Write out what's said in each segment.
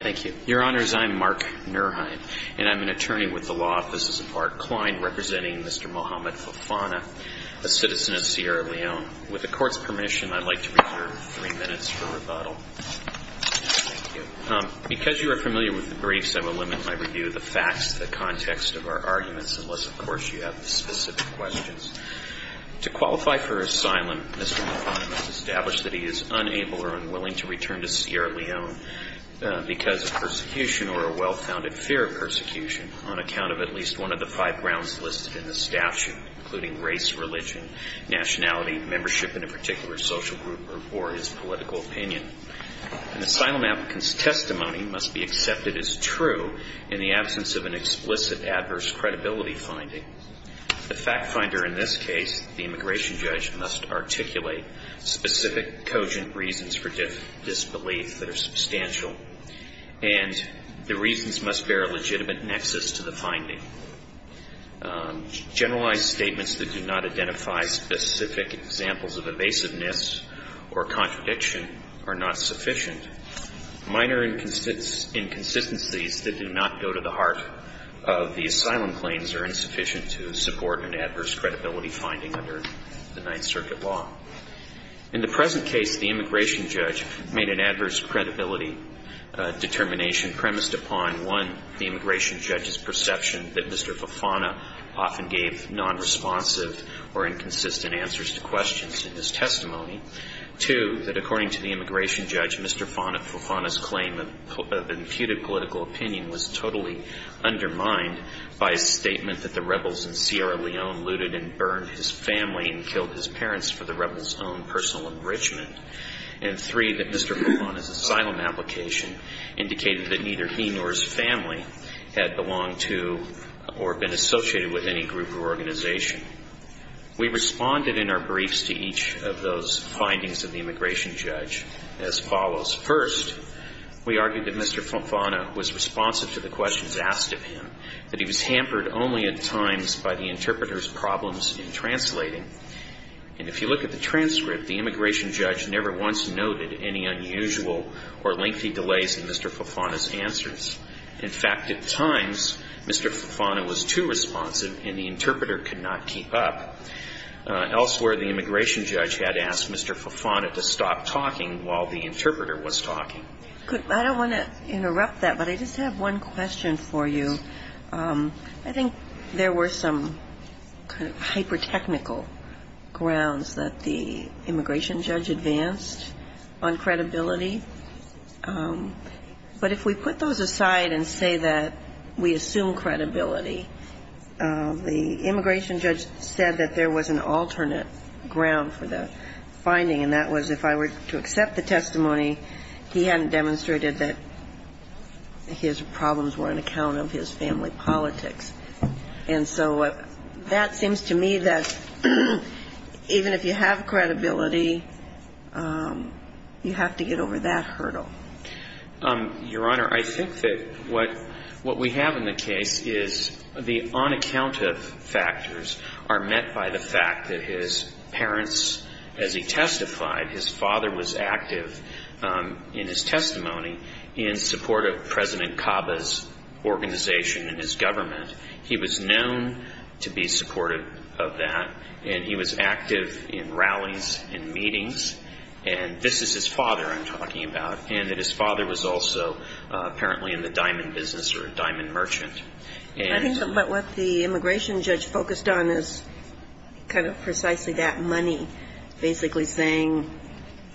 Thank you. Your Honors, I'm Mark Nurheim, and I'm an attorney with the Law Offices of Art Klein, representing Mr. Mohamed Fofana, a citizen of Sierra Leone. With the Court's permission, I'd like to reserve three minutes for rebuttal. Thank you. Because you are familiar with the briefs, I will limit my review of the facts, the context of our arguments, unless, of course, you have specific questions. To qualify for asylum, Mr. Fofana has established that he is unable or unwilling to return to Sierra Leone because of persecution or a well-founded fear of persecution on account of at least one of the five grounds listed in the statute, including race, religion, nationality, membership in a particular social group, or his political opinion. An asylum applicant's testimony must be accepted as true in the absence of an explicit adverse credibility finding. The fact finder in this case, the immigration judge, must articulate specific cogent reasons for disbelief that are substantial, and the reasons must bear a legitimate nexus to the finding. Generalized statements that do not identify specific examples of evasiveness or contradiction are not sufficient. Minor inconsistencies that do not go to the heart of the asylum claims are insufficient to support an adverse credibility finding under the Ninth Circuit law. In the present case, the immigration judge made an adverse credibility determination premised upon, one, the immigration judge's perception that Mr. Fofana often gave nonresponsive or inconsistent answers to questions in his testimony. Two, that according to the immigration judge, Mr. Fofana's claim of imputed political opinion was totally undermined by a statement that the rebels in Sierra Leone looted and burned his family and killed his parents for the rebels' own personal enrichment. And three, that Mr. Fofana's asylum application indicated that neither he nor his family had belonged to or been associated with any group or organization. We responded in our briefs to each of those findings of the immigration judge as follows. First, we argued that Mr. Fofana was responsive to the questions asked of him, that he was hampered only at times by the interpreter's problems in translating. And if you look at the transcript, the immigration judge never once noted any unusual or lengthy delays in Mr. Fofana's answers. In fact, at times, Mr. Fofana was too responsive and the interpreter could not keep up. Elsewhere, the immigration judge had asked Mr. Fofana to stop talking while the interpreter was talking. I don't want to interrupt that, but I just have one question for you. I think there were some kind of hyper-technical grounds that the immigration judge advanced on credibility. But if we put those aside and say that we assume credibility, the immigration judge said that there was an alternate ground for the finding, and that was that if I were to accept the testimony, he hadn't demonstrated that his problems were on account of his family politics. And so that seems to me that even if you have credibility, you have to get over that hurdle. Your Honor, I think that what we have in the case is the on-account-of factors are met by the fact that his parents, as he testified, his father was active in his testimony in support of President Caba's organization and his government. He was known to be supportive of that, and he was active in rallies and meetings. And this is his father I'm talking about, and that his father was also apparently in the diamond business or a diamond merchant. I think that what the immigration judge focused on is kind of precisely that money, basically saying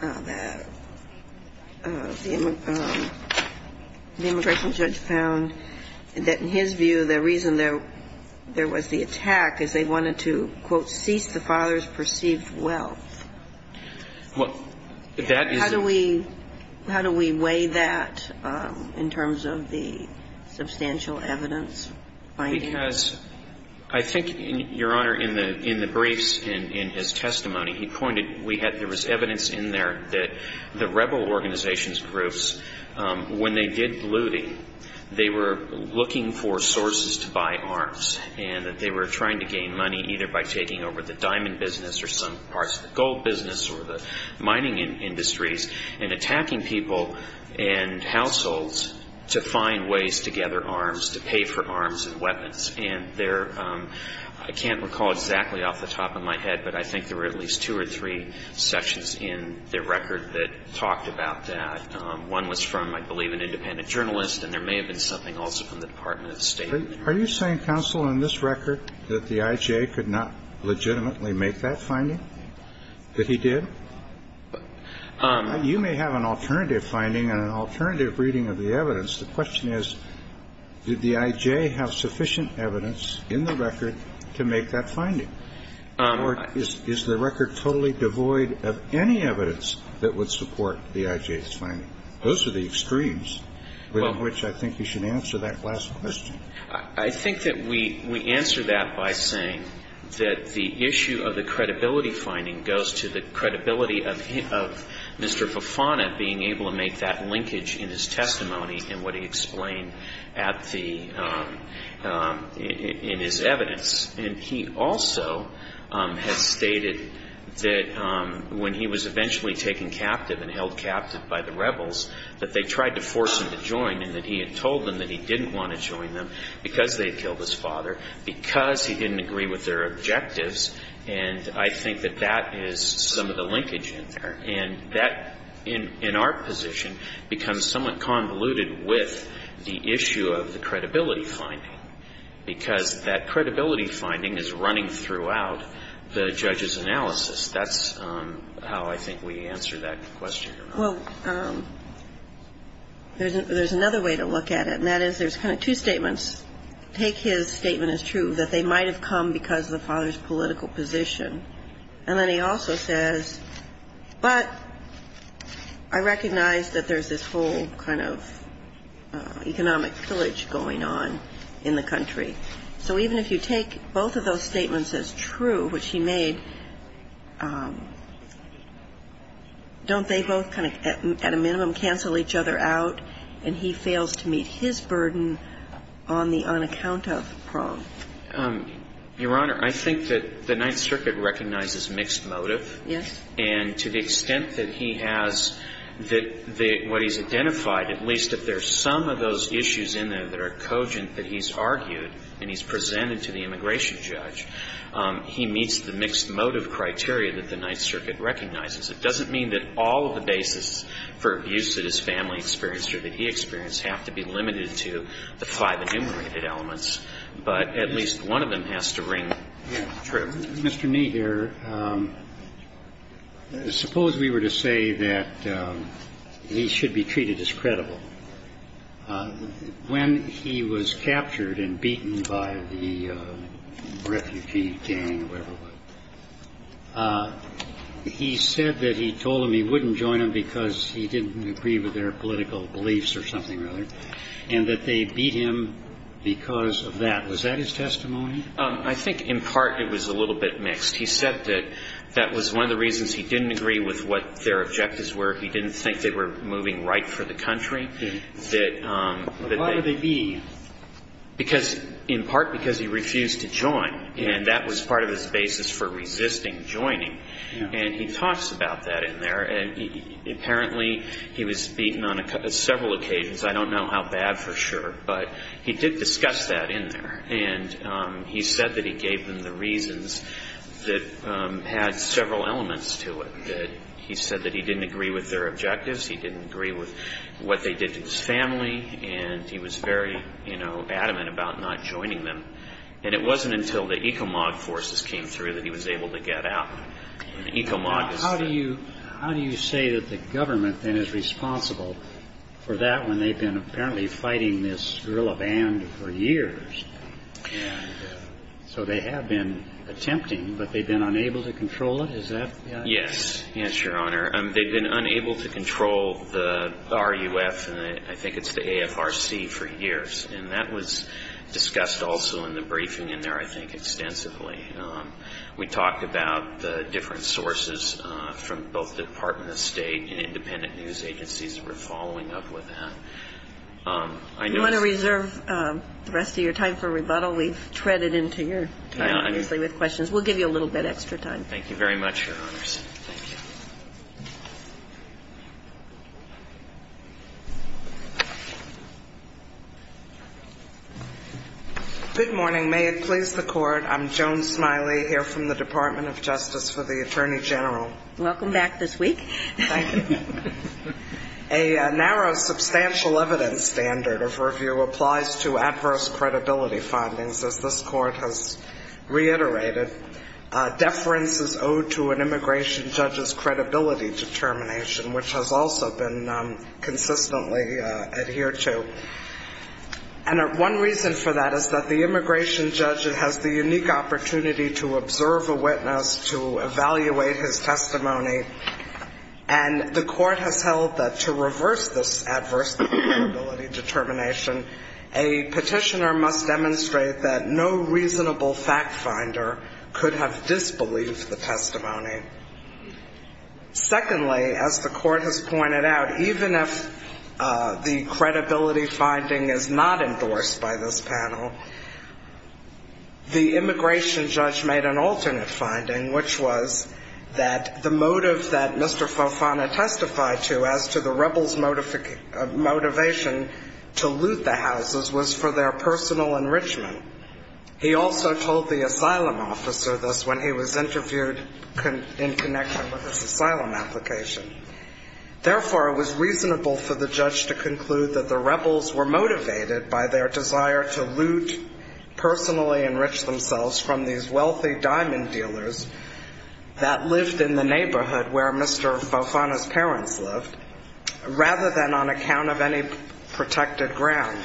that the immigration judge found that in his view, the reason there was the attack is they wanted to, quote, cease the father's perceived wealth. How do we weigh that in terms of the finding? Because I think, Your Honor, in the briefs and in his testimony, he pointed, there was evidence in there that the rebel organization's groups, when they did looting, they were looking for sources to buy arms, and that they were trying to gain money either by taking over the diamond business or some parts of the gold business or the mining industries and attacking people and households to find ways to gather arms, to pay for arms and weapons. And there, I can't recall exactly off the top of my head, but I think there were at least two or three sections in the record that talked about that. One was from, I believe, an independent journalist, and there may have been something also from the Department of State. Are you saying, Counsel, in this record that the IJ could not legitimately make that finding, that he did? You may have an alternative finding and an alternative reading of the evidence. The question is, did the IJ have sufficient evidence in the record to make that finding? Or is the record totally devoid of any evidence that would support the IJ's finding? Those are the extremes within which I think you should answer that last question. Well, I think that we answer that by saying that the issue of the credibility finding goes to the credibility of Mr. Fofana being able to make that linkage in his testimony and what he explained at the, in his evidence. And he also has stated that when he was eventually taken captive and held captive by the rebels, that they tried to force him to join and that he had told them that he didn't want to join them because they had killed his father, because he didn't agree with their objectives. And I think that that is some of the linkage in there. And that, in our position, becomes somewhat convoluted with the issue of the credibility finding, because that credibility finding is running throughout the judge's analysis. That's how I think we answer that question. Well, there's another way to look at it, and that is there's kind of two statements. Take his statement as true, that they might have come because of the father's political position. And then he also says, but I recognize that there's this whole kind of economic pillage going on in the country. So even if you take both of those statements as true, which he made, don't they both kind of at a minimum cancel each other out and he fails to meet his burden on the unaccounted for? Your Honor, I think that the Ninth Circuit recognizes mixed motive. Yes. And to the extent that he has, that what he's identified, at least if there's some of those issues in there that are cogent that he's argued and he's presented to the immigration judge, he meets the mixed motive criteria that the Ninth Circuit recognizes. It doesn't mean that all of the basis for abuse that his family experienced or that he experienced have to be limited to the five enumerated elements. But at least one of them has to ring true. Mr. Knee here, suppose we were to say that he should be treated as credible. When he was captured and beaten by the refugee gang, whoever it was, he said that he told them he wouldn't join them because he didn't agree with their political beliefs or something, rather, and that they beat him because of that. Was that his testimony? I think, in part, it was a little bit mixed. He said that that was one of the reasons he didn't agree with what their objectives were. He didn't think they were moving right for the country. Why would they be? Because, in part, because he refused to join. And that was part of his basis for resisting joining. And he talks about that in there. And apparently, he was beaten on several occasions. I don't know how bad, for sure. But he did discuss that in there. And he said that he gave them the reasons that had several elements to it. He said that he didn't agree with their objectives. He didn't agree with what they did to his family. And he was very adamant about not joining them. And it wasn't until the ECOMOG forces came through that he was able to get out. And ECOMOG is the How do you say that the government, then, is responsible for that when they've been, apparently, fighting this guerrilla band for years? Yeah. So they have been attempting, but they've been unable to control it, is that? Yes. Yes, Your Honor. They've been unable to control the RUF, and I think it's the AFRC, for years. And that was discussed, also, in the briefing in there, I think, extensively. We talked about the different sources from both the Department of State and independent news agencies that were following up with that. I know- You want to reserve the rest of your time for rebuttal? We've treaded into your time, obviously, with questions. We'll give you a little bit extra time. Thank you very much, Your Honors. Thank you. Good morning. May it please the Court, I'm Joan Smiley, here from the Department of Justice for the Attorney General. Welcome back this week. Thank you. A narrow, substantial evidence standard of review applies to adverse credibility findings, as this Court has reiterated. Deference is owed to an immigration judge's credibility determination, which has also been consistently adhered to. And one reason for that is that the immigration judge has the unique opportunity to observe a witness, to evaluate his testimony. And the Court has held that to reverse this adverse credibility determination, a petitioner must demonstrate that no reasonable fact finder could have disbelieved the testimony. Secondly, as the Court has pointed out, even if the credibility finding is not endorsed by this panel, the immigration judge made an alternate finding, which was that the motive that Mr. Fofana testified to as to the rebels' motivation to loot the houses was for their personal enrichment. He also told the asylum officer this when he was interviewed in connection with his asylum application. Therefore, it was reasonable for the judge to conclude that the rebels were motivated by their desire to loot, personally enrich themselves from these wealthy diamond dealers that lived in the neighborhood where Mr. Fofana's parents lived, rather than on account of any protected ground.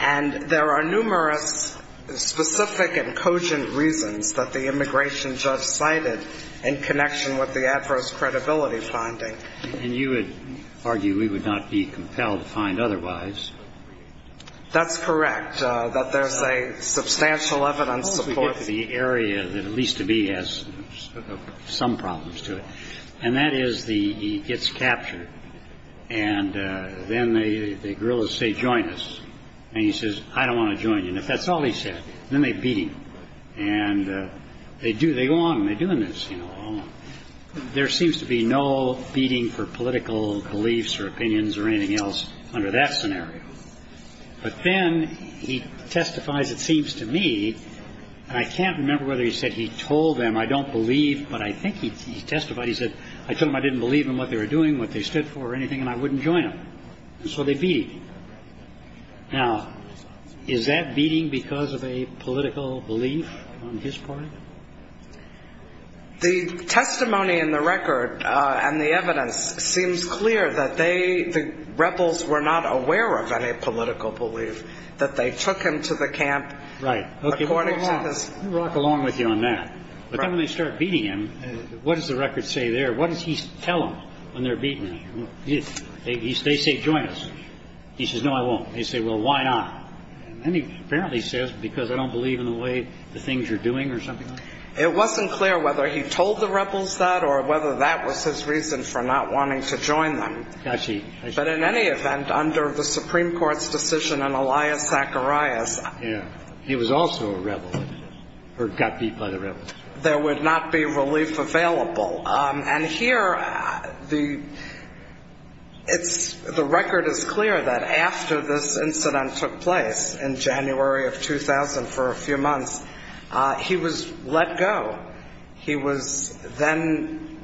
And there are numerous specific and cogent reasons that the immigration judge cited in connection with the adverse credibility finding. And you would argue we would not be compelled to find otherwise. That's correct, that there's a substantial evidence support. We get to the area that at least to me has some problems to it. And that is he gets captured, and then the guerrillas say, join us. And he says, I don't want to join you. And if that's all he said, then they beat him. And they go on, and they're doing this. There seems to be no beating for political beliefs or opinions or anything else under that scenario. But then he testifies, it seems to me, and I can't remember whether he said he told them, I don't believe, but I think he testified. He said, I told them I didn't believe in what they were doing, what they stood for, or anything, and I wouldn't join them. And so they beat him. Now, is that beating because of a political belief on his part? The testimony in the record and the evidence seems clear that they, the rebels, were not aware of any political belief. That they took him to the camp. Right, okay, we'll rock along with you on that. But then when they start beating him, what does the record say there? What does he tell them when they're beating him? They say, join us. He says, no, I won't. They say, well, why not? And then he apparently says, because I don't believe in the way the things you're doing, or something like that. It wasn't clear whether he told the rebels that, or whether that was his reason for not wanting to join them. Got you. But in any event, under the Supreme Court's decision on Elias Zacharias. Yeah, he was also a rebel, or got beat by the rebels. There would not be relief available. And here, the record is clear that after this incident took place, in January of 2000, for a few months, he was let go. He was then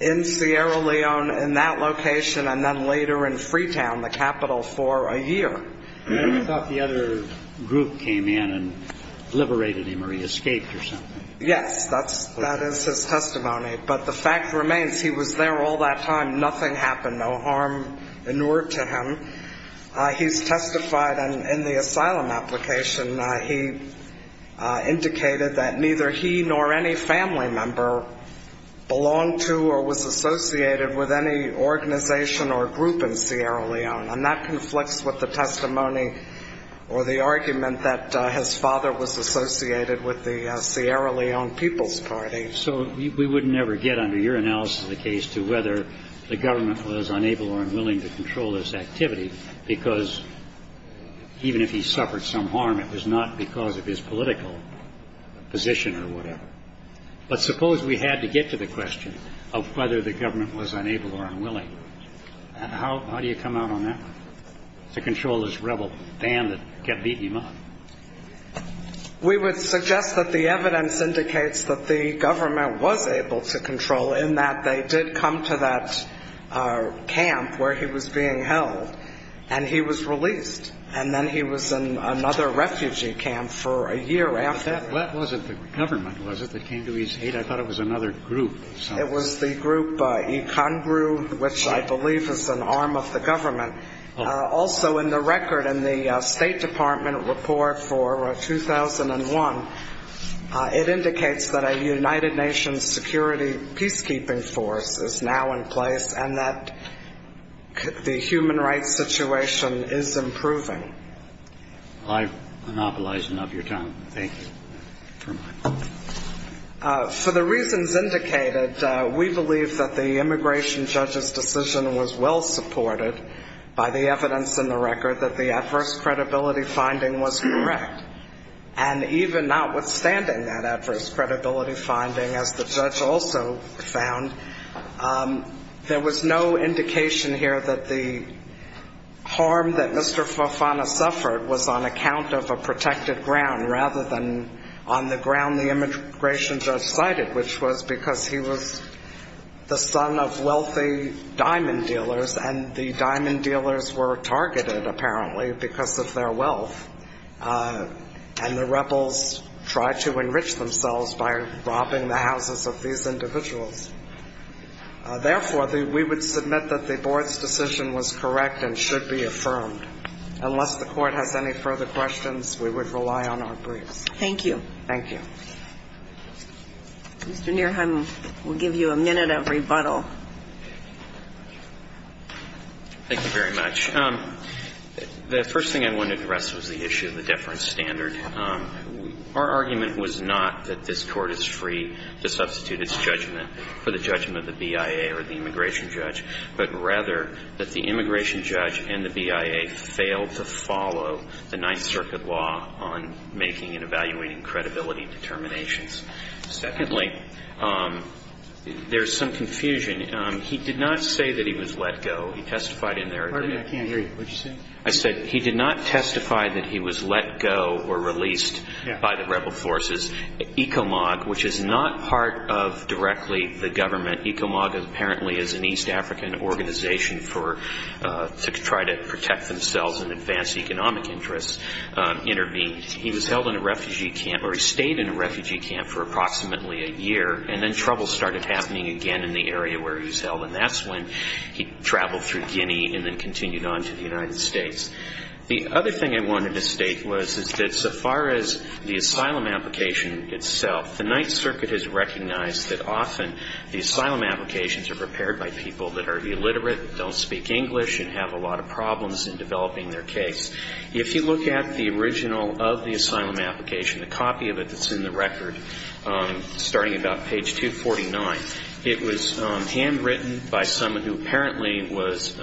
in Sierra Leone, in that location, and then later in Freetown, the capital, for a year. I thought the other group came in and liberated him, or he escaped or something. Yes, that is his testimony. But the fact remains, he was there all that time. Nothing happened, no harm in order to him. He's testified in the asylum application. He indicated that neither he nor any family member belonged to or was associated with any organization or group in Sierra Leone. And that conflicts with the testimony or the argument that his father was associated with the Sierra Leone People's Party. So we would never get, under your analysis of the case, to whether the government was unable or unwilling to control this activity. Because even if he suffered some harm, it was not because of his political position or whatever. But suppose we had to get to the question of whether the government was unable or unwilling. And how do you come out on that? To control this rebel band that kept beating him up? We would suggest that the evidence indicates that the government was able to control, in that they did come to that camp where he was being held. And he was released. And then he was in another refugee camp for a year after that. That wasn't the government, was it, that came to his aid? I thought it was another group of some sort. It was the group Ikangru, which I believe is an arm of the government. Also, in the record in the State Department report for 2001, it indicates that a United Nations security peacekeeping force is now in place. And that the human rights situation is improving. I've monopolized enough of your time. Thank you for my point. For the reasons indicated, we believe that the immigration judge's decision was well supported by the evidence in the record that the adverse credibility finding was correct. And even notwithstanding that adverse credibility finding, as the judge also found, there was no indication here that the harm that Mr. Fofana suffered was on account of a protected ground, rather than on the ground the immigration judge cited, which was because he was the son of wealthy diamond dealers. And the diamond dealers were targeted, apparently, because of their wealth. And the rebels tried to enrich themselves by robbing the houses of these individuals. Therefore, we would submit that the board's decision was correct and should be affirmed. Unless the court has any further questions, we would rely on our briefs. Thank you. Thank you. Mr. Nierheim will give you a minute of rebuttal. Thank you very much. The first thing I wanted to address was the issue of the deference standard. Our argument was not that this court is free to substitute its judgment for the judgment of the BIA or the immigration judge. But rather, that the immigration judge and the BIA failed to follow the Ninth Circuit law on making and evaluating credibility determinations. Secondly, there's some confusion. He did not say that he was let go. He testified in there. Pardon me, I can't hear you. What did you say? I said he did not testify that he was let go or released by the rebel forces. ECOMOG, which is not part of directly the government, ECOMOG apparently is an East African organization to try to protect themselves and advance economic interests, intervened. He was held in a refugee camp, or he stayed in a refugee camp for approximately a year. And then trouble started happening again in the area where he was held. And that's when he traveled through Guinea and then continued on to the United States. The other thing I wanted to state was that so far as the asylum application itself, the Ninth Circuit has recognized that often the asylum applications are prepared by people that are illiterate, don't speak English, and have a lot of problems in developing their case. If you look at the original of the asylum application, the copy of it that's in the record, starting about page 249, it was handwritten by someone who apparently was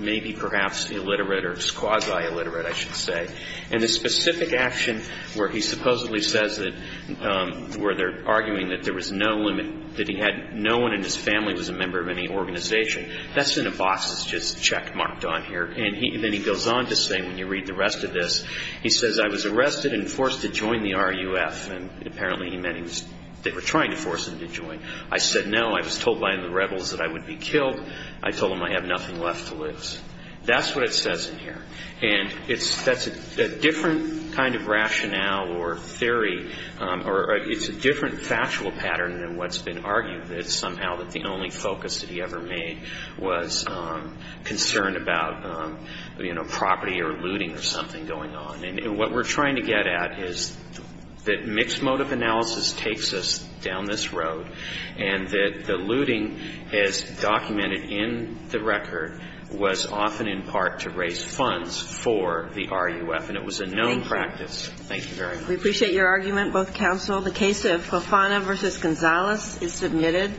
maybe perhaps illiterate or quasi-illiterate, I should say. And the specific action where he supposedly says that, where they're arguing that there was no limit, that he had no one in his family was a member of any organization, that's in a box that's just checkmarked on here. And then he goes on to say, when you read the rest of this, he says, I was arrested and forced to join the RUF. And apparently he meant they were trying to force him to join. I said no, I was told by the rebels that I would be killed. I told them I have nothing left to lose. That's what it says in here. And that's a different kind of rationale or theory, or it's a different factual pattern than what's been argued. And it's somehow that the only focus that he ever made was concerned about, you know, property or looting or something going on. And what we're trying to get at is that mixed motive analysis takes us down this road and that the looting as documented in the record was often in part to raise funds for the RUF, and it was a known practice. Thank you very much. We appreciate your argument, both counsel. The case of Cofana versus Gonzalez is submitted.